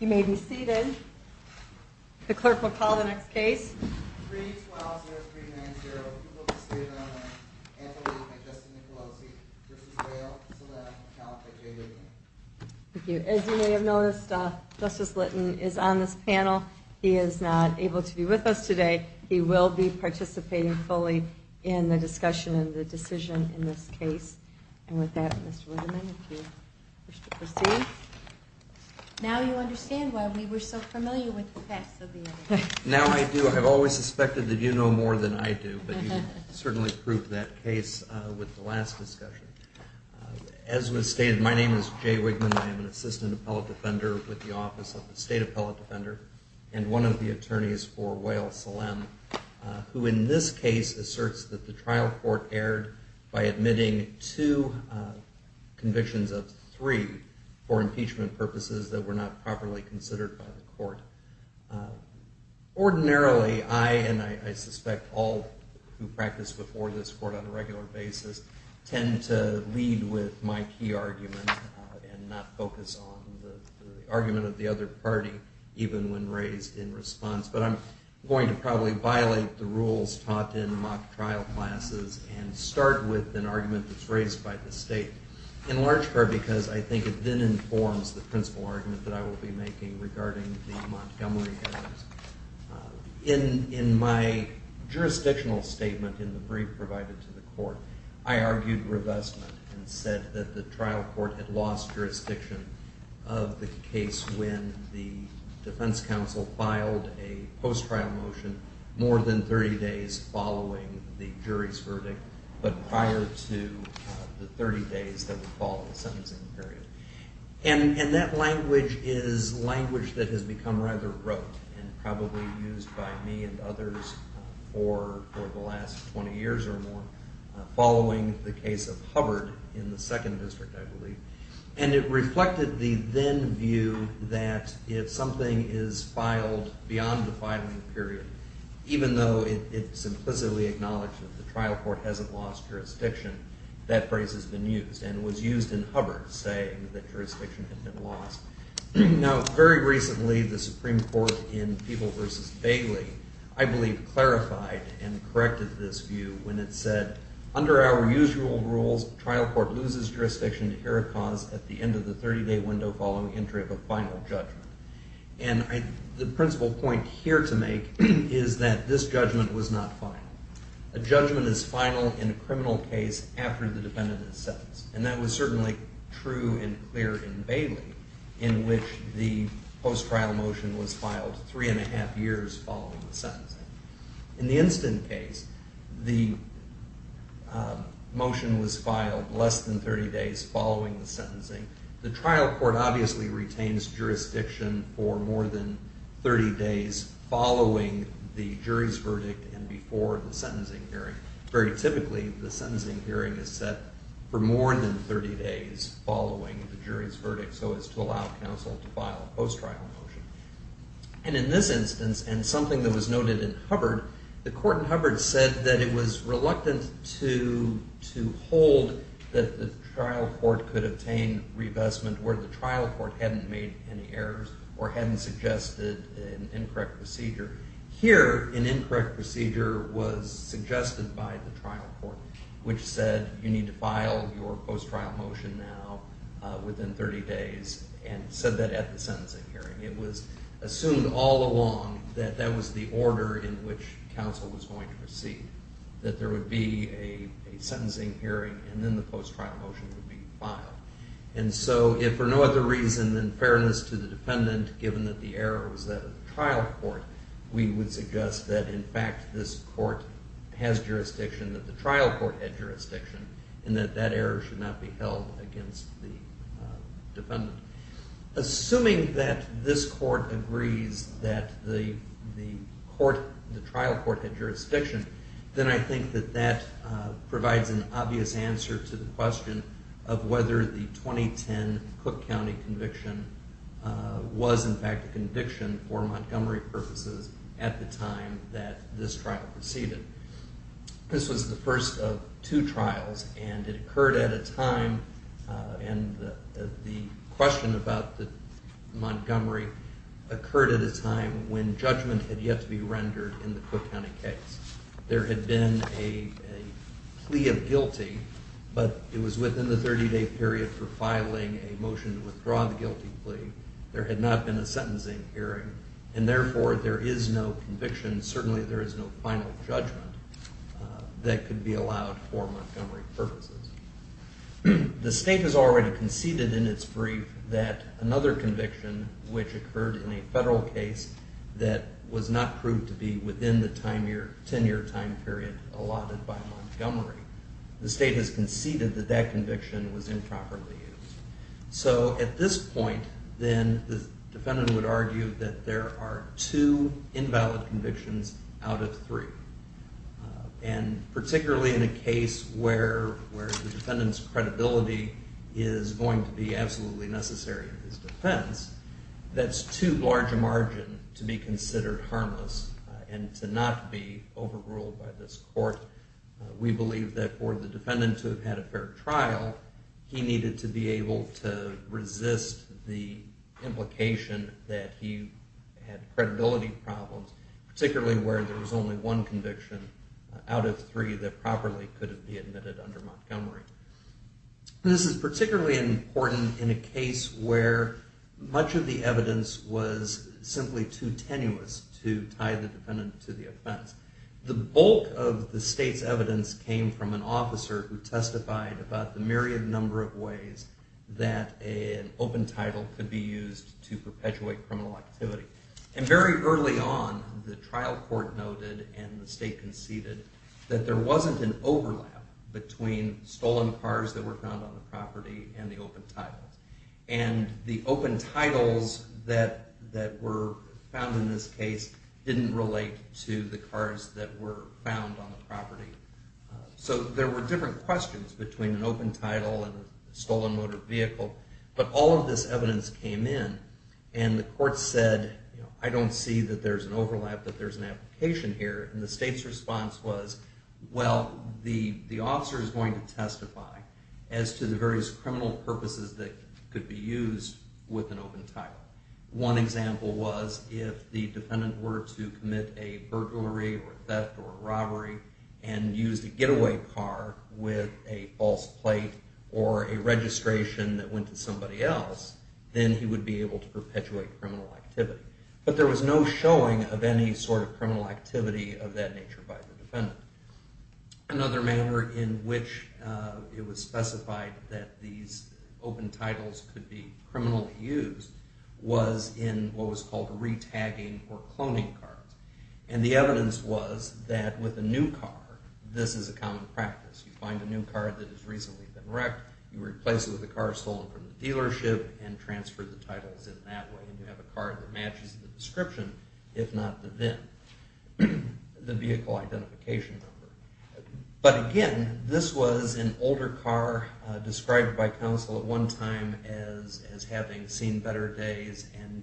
You may be seated. The clerk will call the next case. Thank you. As you may have noticed, Justice Litton is on this panel. He is not able to be with us today. He will be participating fully in the discussion and the decision in this case. And with that, Mr. Whiteman, if you wish to proceed. Now you understand why we were so familiar with the facts of the evidence. Now I do. I've always suspected that you know more than I do, but you certainly proved that case with the last discussion. As was stated, my name is Jay Whitman. I am an assistant appellate defender with the Office of the State Appellate Defender and one of the attorneys for Wales-Salem, who in this case asserts that the trial court erred by admitting two convictions of three for impeachment purposes that were not properly considered by the court. Ordinarily, I, and I suspect all who practice before this court on a regular basis, tend to lead with my key argument and not focus on the argument of the other party, even when raised in response. But I'm going to probably violate the rules taught in mock trial classes and start with an argument that's raised by the state, in large part because I think it then informs the principle argument that I will be making regarding the Montgomery errors. In my jurisdictional statement in the brief provided to the court, I argued revestment and said that the trial court had lost jurisdiction of the case when the defense counsel filed a post-trial motion more than 30 days following the jury's verdict, but prior to the 30 days that would follow the sentencing period. And that language is language that has become rather rote and probably used by me and others for the last 20 years or more, following the case of Hubbard in the second district, I believe. And it reflected the then view that if something is filed beyond the filing period, even though it's implicitly acknowledged that the trial court hasn't lost jurisdiction, that phrase has been used and was used in Hubbard saying that jurisdiction had been lost. Now, very recently, the Supreme Court in People v. Bailey, I believe, clarified and corrected this view when it said, under our usual rules, trial court loses jurisdiction to hear a cause at the end of the 30-day window following entry of a final judgment. And the principle point here to make is that this judgment was not final. A judgment is final in a criminal case after the defendant is sentenced. And that was certainly true and clear in Bailey, in which the post-trial motion was filed three and a half years following the sentencing. In the instant case, the motion was filed less than 30 days following the sentencing. The trial court obviously retains jurisdiction for more than 30 days following the jury's verdict and before the sentencing hearing. Very typically, the sentencing hearing is set for more than 30 days following the jury's verdict so as to allow counsel to file a post-trial motion. And in this instance, and something that was noted in Hubbard, the court in Hubbard said that it was reluctant to hold that the trial court could obtain revestment where the trial court hadn't made any errors or hadn't suggested an incorrect procedure. Here, an incorrect procedure was suggested by the trial court, which said you need to file your post-trial motion now within 30 days and said that at the sentencing hearing. It was assumed all along that that was the order in which counsel was going to proceed, that there would be a sentencing hearing and then the post-trial motion would be filed. And so if for no other reason than fairness to the defendant, given that the error was that of the trial court, we would suggest that in fact this court has jurisdiction, that the trial court had jurisdiction, and that that error should not be held against the defendant. Assuming that this court agrees that the trial court had jurisdiction, then I think that that provides an obvious answer to the question of whether the 2010 Cook County conviction was in fact a conviction for Montgomery purposes at the time that this trial proceeded. This was the first of two trials, and it occurred at a time, and the question about Montgomery occurred at a time when judgment had yet to be rendered in the Cook County case. There had been a plea of guilty, but it was within the 30-day period for filing a motion to withdraw the guilty plea. There had not been a sentencing hearing, and therefore there is no conviction, certainly there is no final judgment, that could be allowed for Montgomery purposes. The state has already conceded in its brief that another conviction which occurred in a federal case that was not proved to be within the 10-year time period allotted by Montgomery, the state has conceded that that conviction was improperly used. So at this point, then, the defendant would argue that there are two invalid convictions out of three, and particularly in a case where the defendant's credibility is going to be absolutely necessary in his defense, that's too large a margin to be considered harmless and to not be overruled by this court. We believe that for the defendant to have had a fair trial, he needed to be able to resist the implication that he had credibility problems, particularly where there was only one conviction out of three that properly could have been admitted under Montgomery. This is particularly important in a case where much of the evidence was simply too tenuous to tie the defendant to the offense. The bulk of the state's evidence came from an officer who testified about the myriad number of ways that an open title could be used to perpetuate criminal activity. And very early on, the trial court noted and the state conceded that there wasn't an overlap between stolen cars that were found on the property and the open titles. And the open titles that were found in this case didn't relate to the cars that were found on the property. So there were different questions between an open title and a stolen motor vehicle, but all of this evidence came in, and the court said, I don't see that there's an overlap, that there's an application here, and the state's response was, well, the officer is going to testify as to the various criminal purposes that could be used with an open title. One example was if the defendant were to commit a burglary or theft or robbery and used a getaway car with a false plate or a registration that went to somebody else, then he would be able to perpetuate criminal activity. But there was no showing of any sort of criminal activity of that nature by the defendant. Another manner in which it was specified that these open titles could be criminally used was in what was called re-tagging or cloning cards. And the evidence was that with a new car, this is a common practice. You find a new car that has recently been wrecked, you replace it with a car stolen from the dealership, and transfer the titles in that way. And you have a car that matches the description, if not the VIN, the vehicle identification number. But again, this was an older car described by counsel at one time as having seen better days and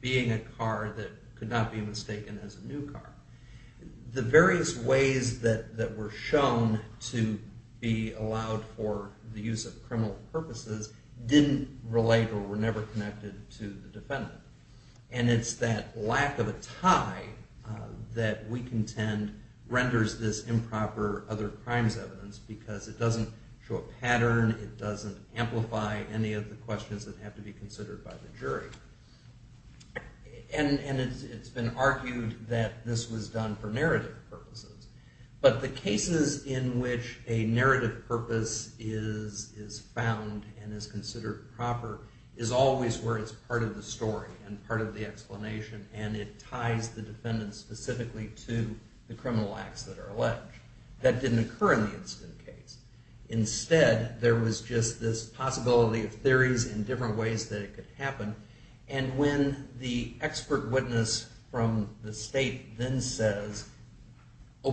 being a car that could not be mistaken as a new car. The various ways that were shown to be allowed for the use of criminal purposes didn't relate or were never connected to the defendant. And it's that lack of a tie that we contend renders this improper other crimes evidence because it doesn't show a pattern, it doesn't amplify any of the questions that have to be considered by the jury. And it's been argued that this was done for narrative purposes. But the cases in which a narrative purpose is found and is considered proper is always where it's part of the story and part of the explanation and it ties the defendant specifically to the criminal acts that are alleged. That didn't occur in the incident case. When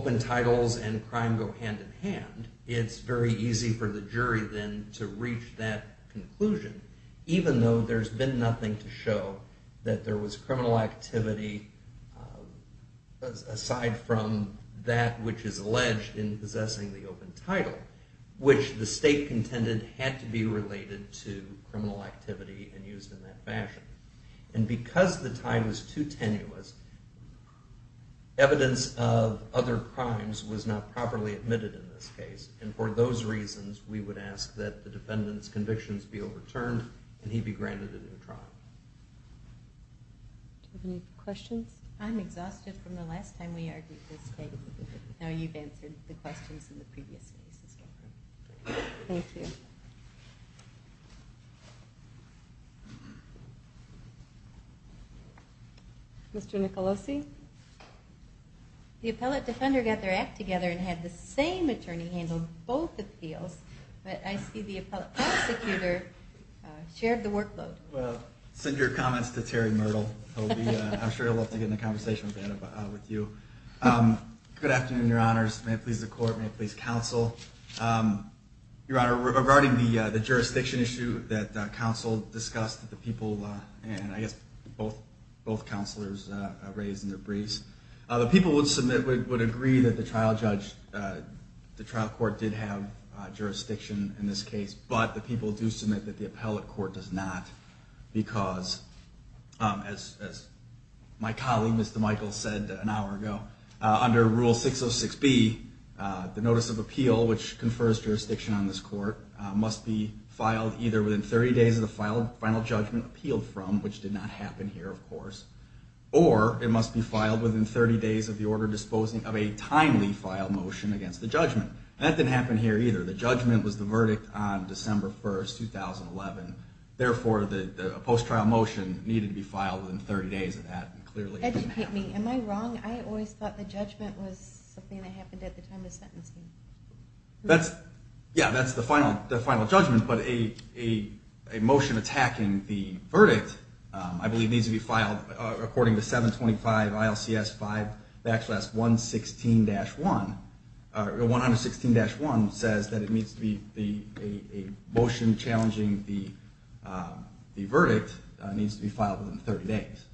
open titles and crime go hand in hand, it's very easy for the jury then to reach that conclusion, even though there's been nothing to show that there was criminal activity aside from that which is alleged in possessing the open title, which the state contended had to be related to criminal activity and used in that fashion. And because the tie was too tenuous, evidence of other crimes was not properly admitted in this case. And for those reasons, we would ask that the defendant's convictions be overturned and he be granted a new trial. Do you have any questions? I'm exhausted from the last time we argued this case. Now you've answered the questions in the previous cases. Thank you. Mr. Nicolosi? The appellate defender got their act together and had the same attorney handle both appeals, but I see the appellate prosecutor shared the workload. Well, send your comments to Terry Myrtle. I'm sure he'll love to get in a conversation with you. Good afternoon, your honors. May it please the court, may it please counsel. Your honor, regarding the jurisdiction issue that counsel discussed that the people and I guess both counselors raised in their briefs, the people would agree that the trial court did have jurisdiction in this case, but the people do submit that the appellate court does not. Because as my colleague, Mr. Michael, said an hour ago, under Rule 606B, the notice of appeal, which confers jurisdiction on this court, must be filed either within 30 days of the final judgment appealed from, which did not happen here, of course, or it must be filed within 30 days of the order disposing of a timely file motion against the judgment. That didn't happen here either. The judgment was the verdict on December 1st, 2011. Therefore, the post-trial motion needed to be filed within 30 days of that, and clearly it didn't happen. Educate me. Am I wrong? I always thought the judgment was something that happened at the time of the sentencing. Yeah, that's the final judgment, but a motion attacking the verdict, I believe, needs to be filed according to 725 ILCS 5-116-1. 116-1 says that a motion challenging the verdict needs to be filed within 30 days.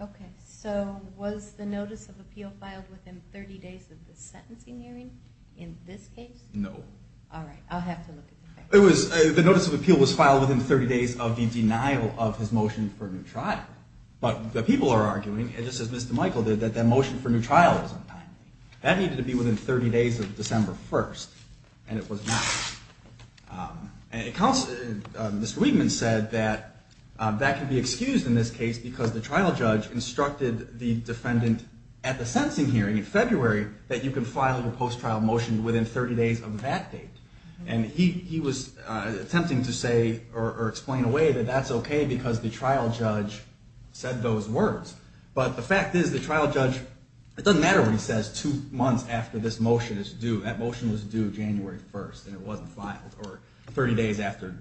Okay. So was the notice of appeal filed within 30 days of the sentencing hearing in this case? No. All right. I'll have to look at the facts. The notice of appeal was filed within 30 days of the denial of his motion for new trial. But the people are arguing, just as Mr. Michael did, that that motion for new trial was untimely. That needed to be within 30 days of December 1st, and it was not. And Mr. Weidman said that that could be excused in this case because the trial judge instructed the defendant at the sentencing hearing in February that you could file a post-trial motion within 30 days of that date. And he was attempting to say, or explain away, that that's okay because the trial judge said those words. But the fact is, the trial judge, it doesn't matter what he says two months after this motion is due. That motion was due January 1st, and it wasn't filed, or 30 days after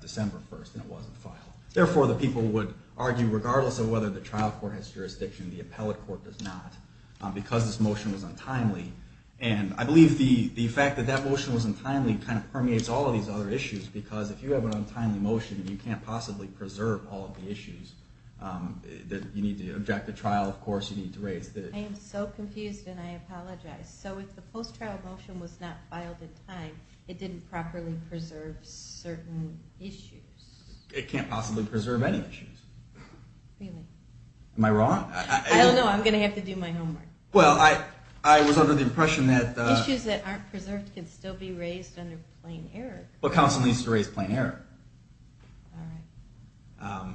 December 1st, and it wasn't filed. Therefore, the people would argue, regardless of whether the trial court has jurisdiction, the appellate court does not, because this motion was untimely. And I believe the fact that that motion was untimely kind of permeates all of these other issues, because if you have an untimely motion, you can't possibly preserve all of the issues that you need to object to trial, of course, you need to raise. I am so confused, and I apologize. So if the post-trial motion was not filed in time, it didn't properly preserve certain issues? It can't possibly preserve any issues. Really? Am I wrong? I don't know. I'm going to have to do my homework. Well, I was under the impression that… Issues that aren't preserved can still be raised under plain error. Well, counsel needs to raise plain error. All right.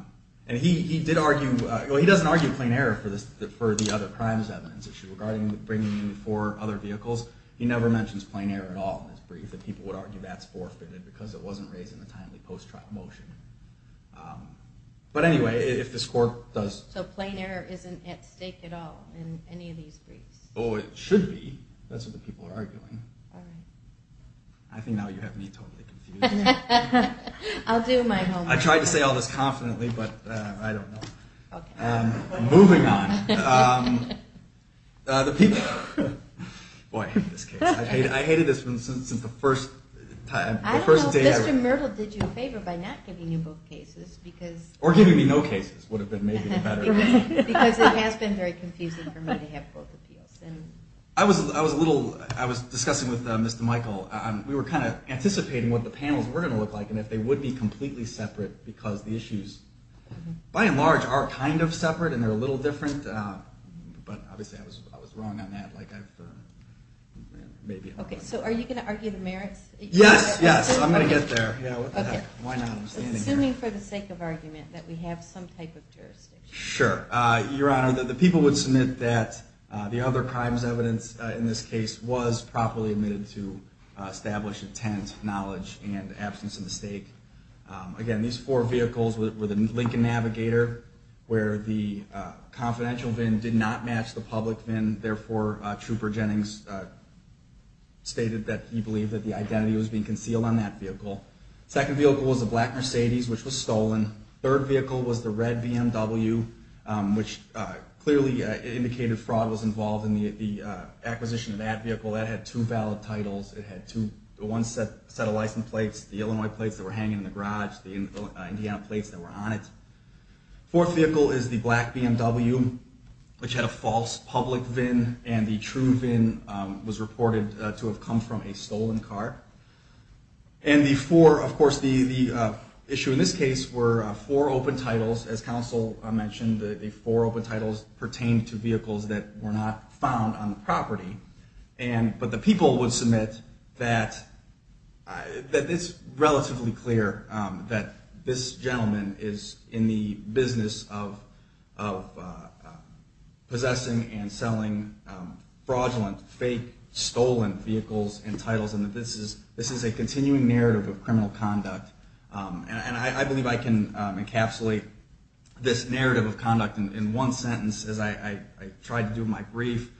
And he did argue, well, he doesn't argue plain error for the other crimes evidence issue, regarding bringing in four other vehicles. He never mentions plain error at all in this brief. And people would argue that's forfeited, because it wasn't raised in a timely post-trial motion. But anyway, if this court does… So plain error isn't at stake at all in any of these briefs? Oh, it should be. That's what the people are arguing. All right. I think now you have me totally confused. I'll do my homework. I tried to say all this confidently, but I don't know. Okay. Moving on. The people… Boy, I hate this case. I've hated this since the first… I don't know if Mr. Myrtle did you a favor by not giving you both cases, because… Or giving me no cases would have been maybe better. Because it has been very confusing for me to have both appeals. I was discussing with Mr. Myrtle. We were kind of anticipating what the panels were going to look like, and if they would be completely separate. Because the issues, by and large, are kind of separate, and they're a little different. But obviously I was wrong on that. Okay, so are you going to argue the merits? Yes, yes. I'm going to get there. Okay. Why not? I'm assuming for the sake of argument that we have some type of jurisdiction. Sure. Your Honor, the people would submit that the other crimes evidence in this case was properly admitted to establish intent, knowledge, and absence of mistake. Again, these four vehicles were the Lincoln Navigator, where the confidential VIN did not match the public VIN. Therefore, Trooper Jennings stated that he believed that the identity was being concealed on that vehicle. The second vehicle was the black Mercedes, which was stolen. The third vehicle was the red BMW, which clearly indicated fraud was involved in the acquisition of that vehicle. That had two valid titles. It had one set of license plates, the Illinois plates that were hanging in the garage, the Indiana plates that were on it. The fourth vehicle is the black BMW, which had a false public VIN, and the true VIN was reported to have come from a stolen car. Of course, the issue in this case were four open titles. As counsel mentioned, the four open titles pertained to vehicles that were not found on the property. But the people would submit that it's relatively clear that this gentleman is in the business of possessing and selling fraudulent, fake, stolen vehicles and titles, and that this is a continuing narrative of criminal conduct. And I believe I can encapsulate this narrative of conduct in one sentence as I try to do my brief.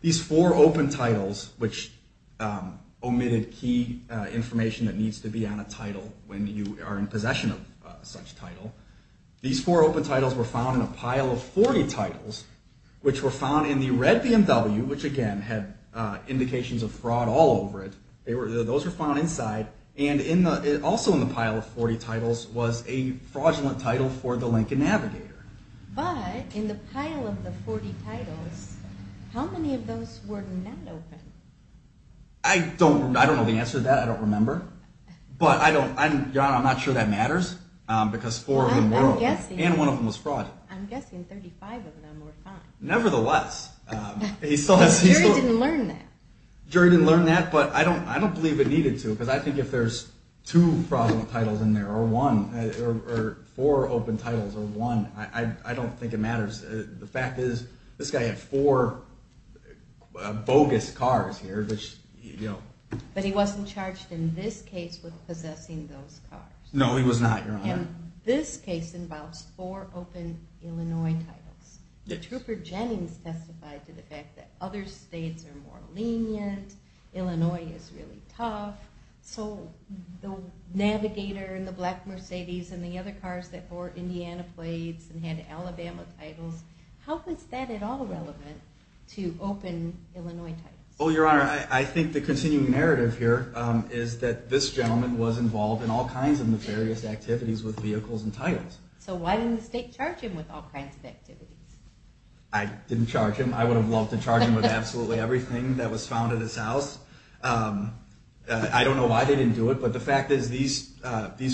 These four open titles, which omitted key information that needs to be on a title when you are in possession of such a title, these four open titles were found in a pile of 40 titles, which were found in the red BMW, which again had indications of fraud all over it. Those were found inside. And also in the pile of 40 titles was a fraudulent title for the Lincoln Navigator. But in the pile of the 40 titles, how many of those were not open? I don't know the answer to that. I don't remember. But I'm not sure that matters, because four of them were open. I'm guessing. And one of them was fraud. I'm guessing 35 of them were found. Nevertheless, he still has these four. The jury didn't learn that. The jury didn't learn that, but I don't believe it needed to, because I think if there's two fraudulent titles in there or one or four open titles or one, I don't think it matters. The fact is this guy had four bogus cars here, which, you know. But he wasn't charged in this case with possessing those cars. No, he was not, Your Honor. And this case involves four open Illinois titles. Trooper Jennings testified to the fact that other states are more lenient. Illinois is really tough. So the Navigator and the black Mercedes and the other cars that bore Indiana plates and had Alabama titles, how is that at all relevant to open Illinois titles? Well, Your Honor, I think the continuing narrative here is that this gentleman was involved in all kinds of nefarious activities with vehicles and titles. So why didn't the state charge him with all kinds of activities? I didn't charge him. I would have loved to charge him with absolutely everything that was found at his house. I don't know why they didn't do it, but the fact is these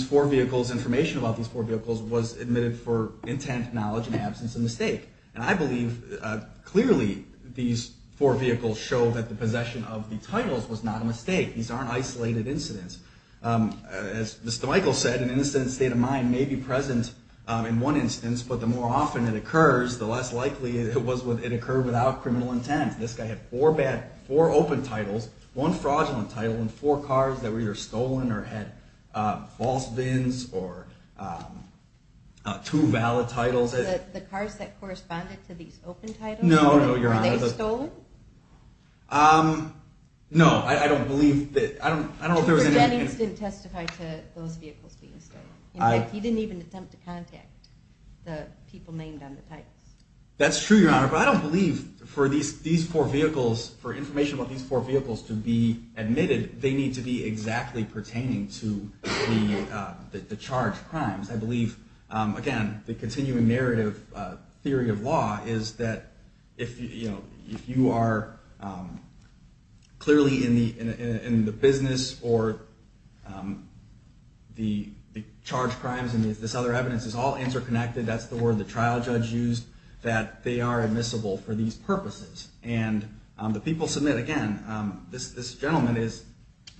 four vehicles, information about these four vehicles was admitted for intent, knowledge, and absence of mistake. And I believe clearly these four vehicles show that the possession of the titles was not a mistake. These aren't isolated incidents. As Mr. Michael said, an innocent state of mind may be present in one instance, but the more often it occurs, the less likely it was when it occurred without criminal intent. This guy had four open titles, one fraudulent title, and four cars that were either stolen or had false vins or two valid titles. The cars that corresponded to these open titles? No, Your Honor. Were they stolen? No, I don't believe that. Mr. Jennings didn't testify to those vehicles being stolen. In fact, he didn't even attempt to contact the people named on the titles. That's true, Your Honor, but I don't believe for these four vehicles, for information about these four vehicles to be admitted, they need to be exactly pertaining to the charged crimes. I believe, again, the continuing narrative theory of law is that if you are clearly in the business or the charged crimes and this other evidence is all interconnected, that's the word the trial judge used, that they are admissible for these purposes. And the people submit, again, this gentleman is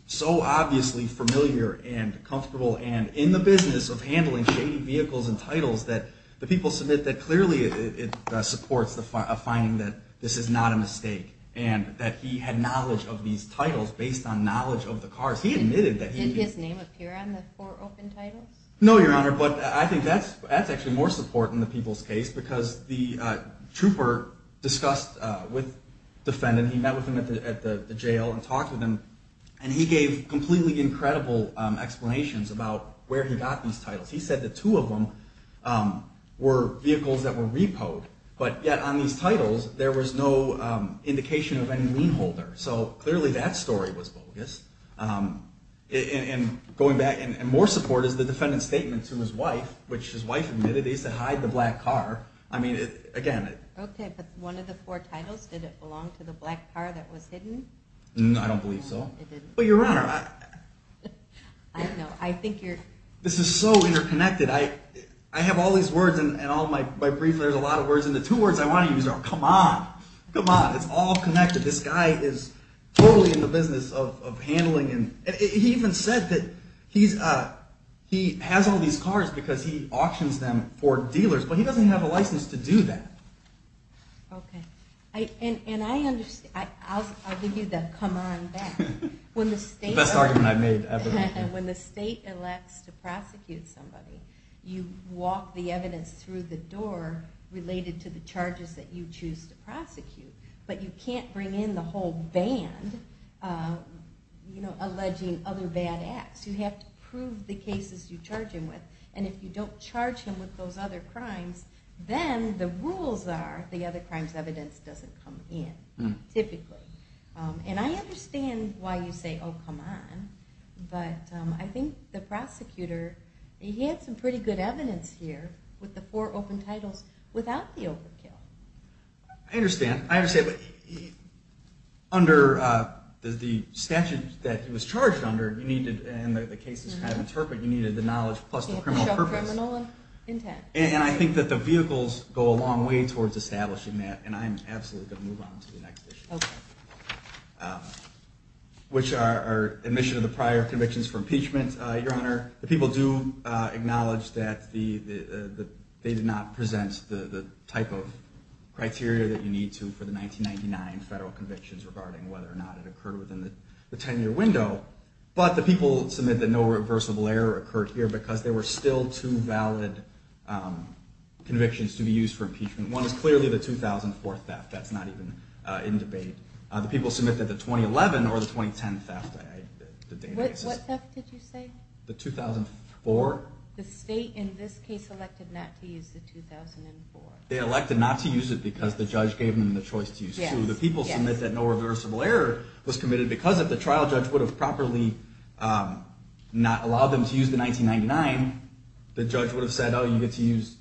so obviously familiar and comfortable and in the business of handling shady vehicles and titles, that the people submit that clearly it supports a finding that this is not a mistake and that he had knowledge of these titles based on knowledge of the cars. Did his name appear on the four open titles? No, Your Honor, but I think that's actually more support in the people's case because the trooper discussed with the defendant. He met with him at the jail and talked with him, and he gave completely incredible explanations about where he got these titles. He said the two of them were vehicles that were repoed, but yet on these titles there was no indication of any lien holder. So clearly that story was bogus. And more support is the defendant's statement to his wife, which his wife admitted he said hide the black car. Okay, but one of the four titles, did it belong to the black car that was hidden? No, I don't believe so. But, Your Honor, this is so interconnected. I have all these words, and in my brief there's a lot of words, and the two words I want to use are come on, come on. It's all connected. This guy is totally in the business of handling, and he even said that he has all these cars because he auctions them for dealers, but he doesn't have a license to do that. Okay, and I understand. I'll give you the come on back. The best argument I've made ever. When the state elects to prosecute somebody, you walk the evidence through the door related to the charges that you choose to prosecute, but you can't bring in the whole band alleging other bad acts. You have to prove the cases you charge him with, and if you don't charge him with those other crimes, then the rules are the other crimes evidence doesn't come in, typically. And I understand why you say, oh, come on, but I think the prosecutor, he had some pretty good evidence here with the four open titles without the overkill. I understand. I understand, but under the statute that he was charged under, you needed, and the case is kind of interpret, you needed the knowledge plus the criminal purpose. Show criminal intent. And I think that the vehicles go a long way towards establishing that, and I'm absolutely going to move on to the next issue, which are admission of the prior convictions for impeachment. Your Honor, the people do acknowledge that they did not present the type of criteria that you need to for the 1999 federal convictions regarding whether or not it occurred within the 10-year window, but the people submit that no reversible error occurred here because there were still two valid convictions to be used for impeachment. One is clearly the 2004 theft. That's not even in debate. The people submit that the 2011 or the 2010 theft. What theft did you say? The 2004. The state in this case elected not to use the 2004. They elected not to use it because the judge gave them the choice to use two. The people submit that no reversible error was committed because of the trial judge would have properly not allowed them to use the 1999. The judge would have said, oh, you get to use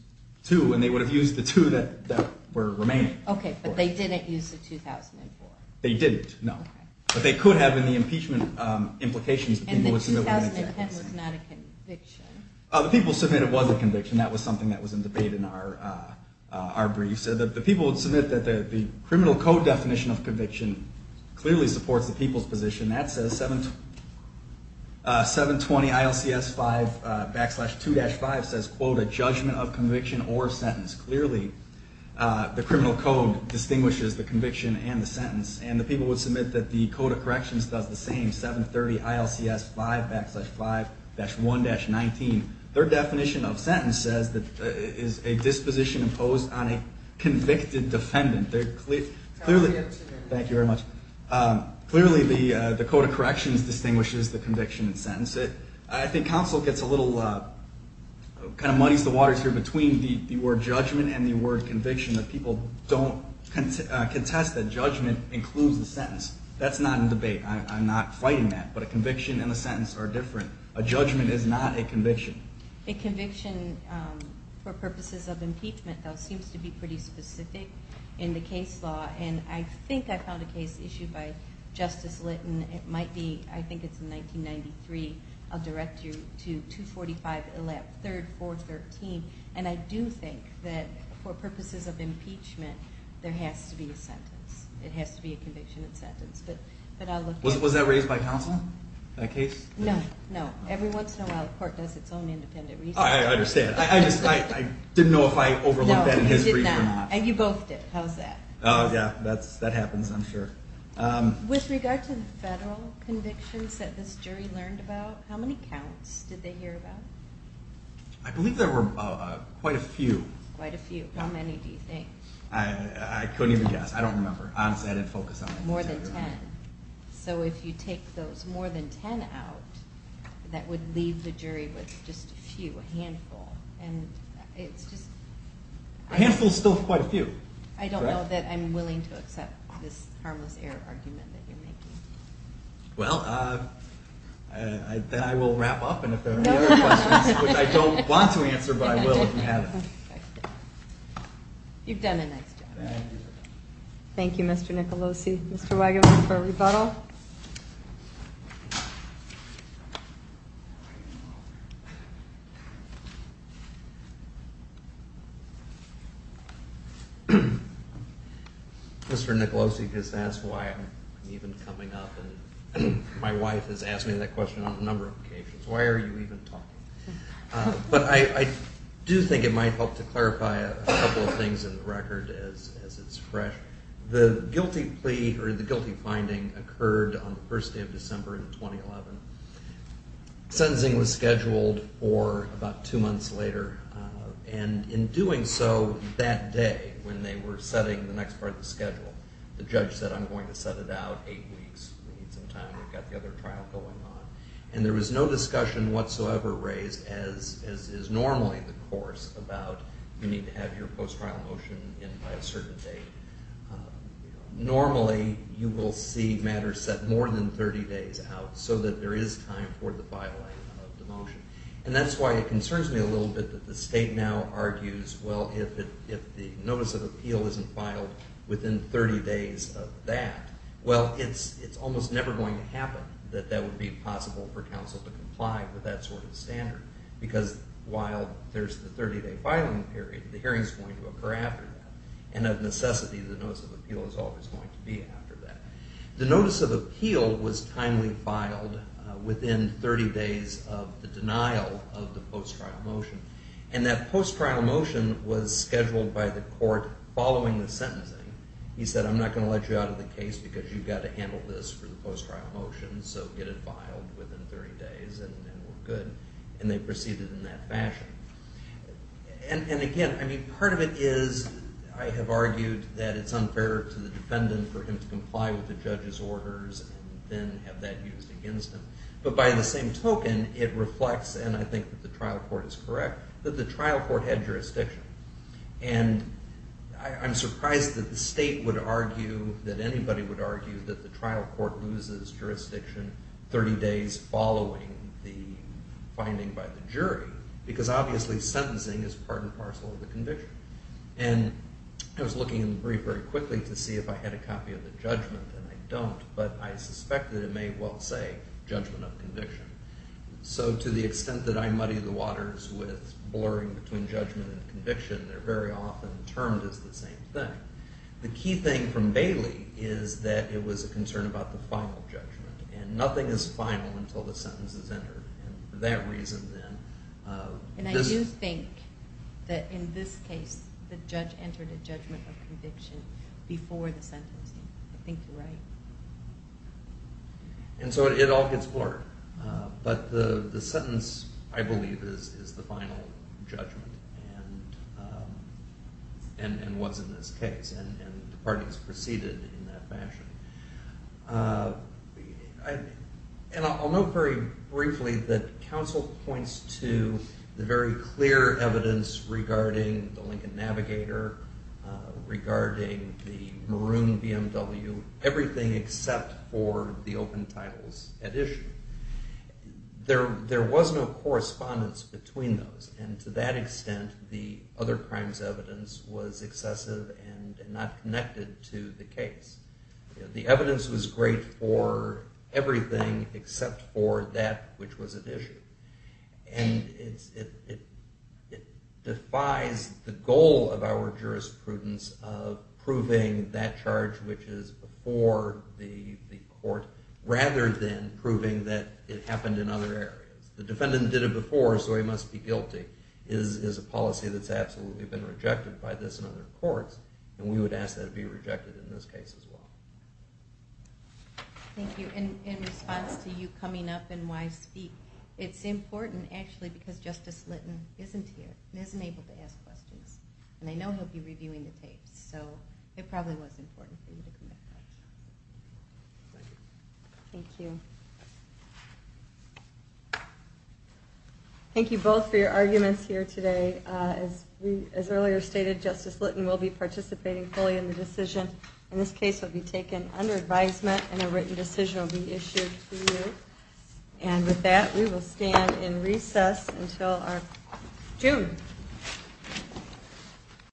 two, and they would have used the two that were remaining. Okay, but they didn't use the 2004. They didn't, no. But they could have in the impeachment implications. And the 2010 was not a conviction. The people submit it was a conviction. That was something that was in debate in our briefs. The people submit that the criminal code definition of conviction clearly supports the people's position. That says 720 ILCS 5 backslash 2-5 says, quote, a judgment of conviction or sentence. Clearly the criminal code distinguishes the conviction and the sentence. And the people would submit that the code of corrections does the same, 730 ILCS 5 backslash 5-1-19. Their definition of sentence says that it is a disposition imposed on a convicted defendant. Thank you very much. Clearly the code of corrections distinguishes the conviction and sentence. I think counsel gets a little, kind of muddies the waters here, between the word judgment and the word conviction, that people don't contest that judgment includes the sentence. That's not in debate. I'm not fighting that. But a conviction and a sentence are different. A judgment is not a conviction. A conviction for purposes of impeachment, though, seems to be pretty specific in the case law. And I think I found a case issued by Justice Litton. It might be, I think it's 1993. I'll direct you to 245, 3rd, 413. And I do think that for purposes of impeachment, there has to be a sentence. It has to be a conviction and sentence. But I'll look at it. Was that raised by counsel, that case? No, no. Every once in a while the court does its own independent research. I understand. I didn't know if I overlooked that in history or not. No, you did not. And you both did. How's that? Oh, yeah. That happens, I'm sure. With regard to the federal convictions that this jury learned about, how many counts did they hear about? I believe there were quite a few. Quite a few. How many do you think? I couldn't even guess. I don't remember. Honestly, I didn't focus on that. More than 10. So if you take those more than 10 out, that would leave the jury with just a few, a handful. And it's just... A handful is still quite a few. I don't know that I'm willing to accept this harmless error argument that you're making. Well, then I will wrap up. And if there are any other questions, which I don't want to answer, but I will if you have them. You've done a nice job. Thank you. Thank you, Mr. Nicolosi. Mr. Weigel, for a rebuttal. Thank you. Mr. Nicolosi, because that's why I'm even coming up, and my wife has asked me that question on a number of occasions. Why are you even talking? But I do think it might help to clarify a couple of things in the record as it's fresh. The guilty plea, or the guilty finding, occurred on the first day of December in 2011. Sentencing was scheduled for about two months later. And in doing so that day, when they were setting the next part of the schedule, the judge said, I'm going to set it out eight weeks. We need some time. We've got the other trial going on. You need to have your post-trial motion in by a certain date. Normally, you will see matters set more than 30 days out so that there is time for the filing of the motion. And that's why it concerns me a little bit that the state now argues, well, if the notice of appeal isn't filed within 30 days of that, well, it's almost never going to happen that that would be possible for counsel to comply with that sort of standard. Because while there's the 30-day filing period, the hearing is going to occur after that. And of necessity, the notice of appeal is always going to be after that. The notice of appeal was timely filed within 30 days of the denial of the post-trial motion. And that post-trial motion was scheduled by the court following the sentencing. He said, I'm not going to let you out of the case because you've got to handle this for the post-trial motion. So get it filed within 30 days and we're good. And they proceeded in that fashion. And again, I mean, part of it is I have argued that it's unfair to the defendant for him to comply with the judge's orders and then have that used against him. But by the same token, it reflects, and I think that the trial court is correct, that the trial court had jurisdiction. And I'm surprised that the state would argue, that anybody would argue, that the trial court loses jurisdiction 30 days following the finding by the jury. Because obviously, sentencing is part and parcel of the conviction. And I was looking in the brief very quickly to see if I had a copy of the judgment, and I don't. But I suspect that it may well say judgment of conviction. So to the extent that I muddy the waters with blurring between judgment and conviction, they're very often termed as the same thing. The key thing from Bailey is that it was a concern about the final judgment. And nothing is final until the sentence is entered. And for that reason, then... And I do think that in this case, the judge entered a judgment of conviction before the sentencing. I think you're right. And so it all gets blurred. But the sentence, I believe, is the final judgment, and was in this case. And the parties proceeded in that fashion. And I'll note very briefly that counsel points to the very clear evidence regarding the Lincoln Navigator, regarding the maroon BMW, everything except for the open titles at issue. There was no correspondence between those. And to that extent, the other crimes evidence was excessive and not connected to the case. The evidence was great for everything except for that which was at issue. And it defies the goal of our jurisprudence of proving that charge which is before the court, rather than proving that it happened in other areas. The defendant did it before, so he must be guilty is a policy that's absolutely been rejected by this and other courts. And we would ask that it be rejected in this case as well. Thank you. In response to you coming up and why speak, it's important, actually, because Justice Litton isn't here. He isn't able to ask questions. And I know he'll be reviewing the tapes. So it probably was important for you to come back. Thank you. Thank you both for your arguments here today. As earlier stated, Justice Litton will be participating fully in the decision. In this case, it will be taken under advisement and a written decision will be issued to you. And with that, we will stand in recess until June.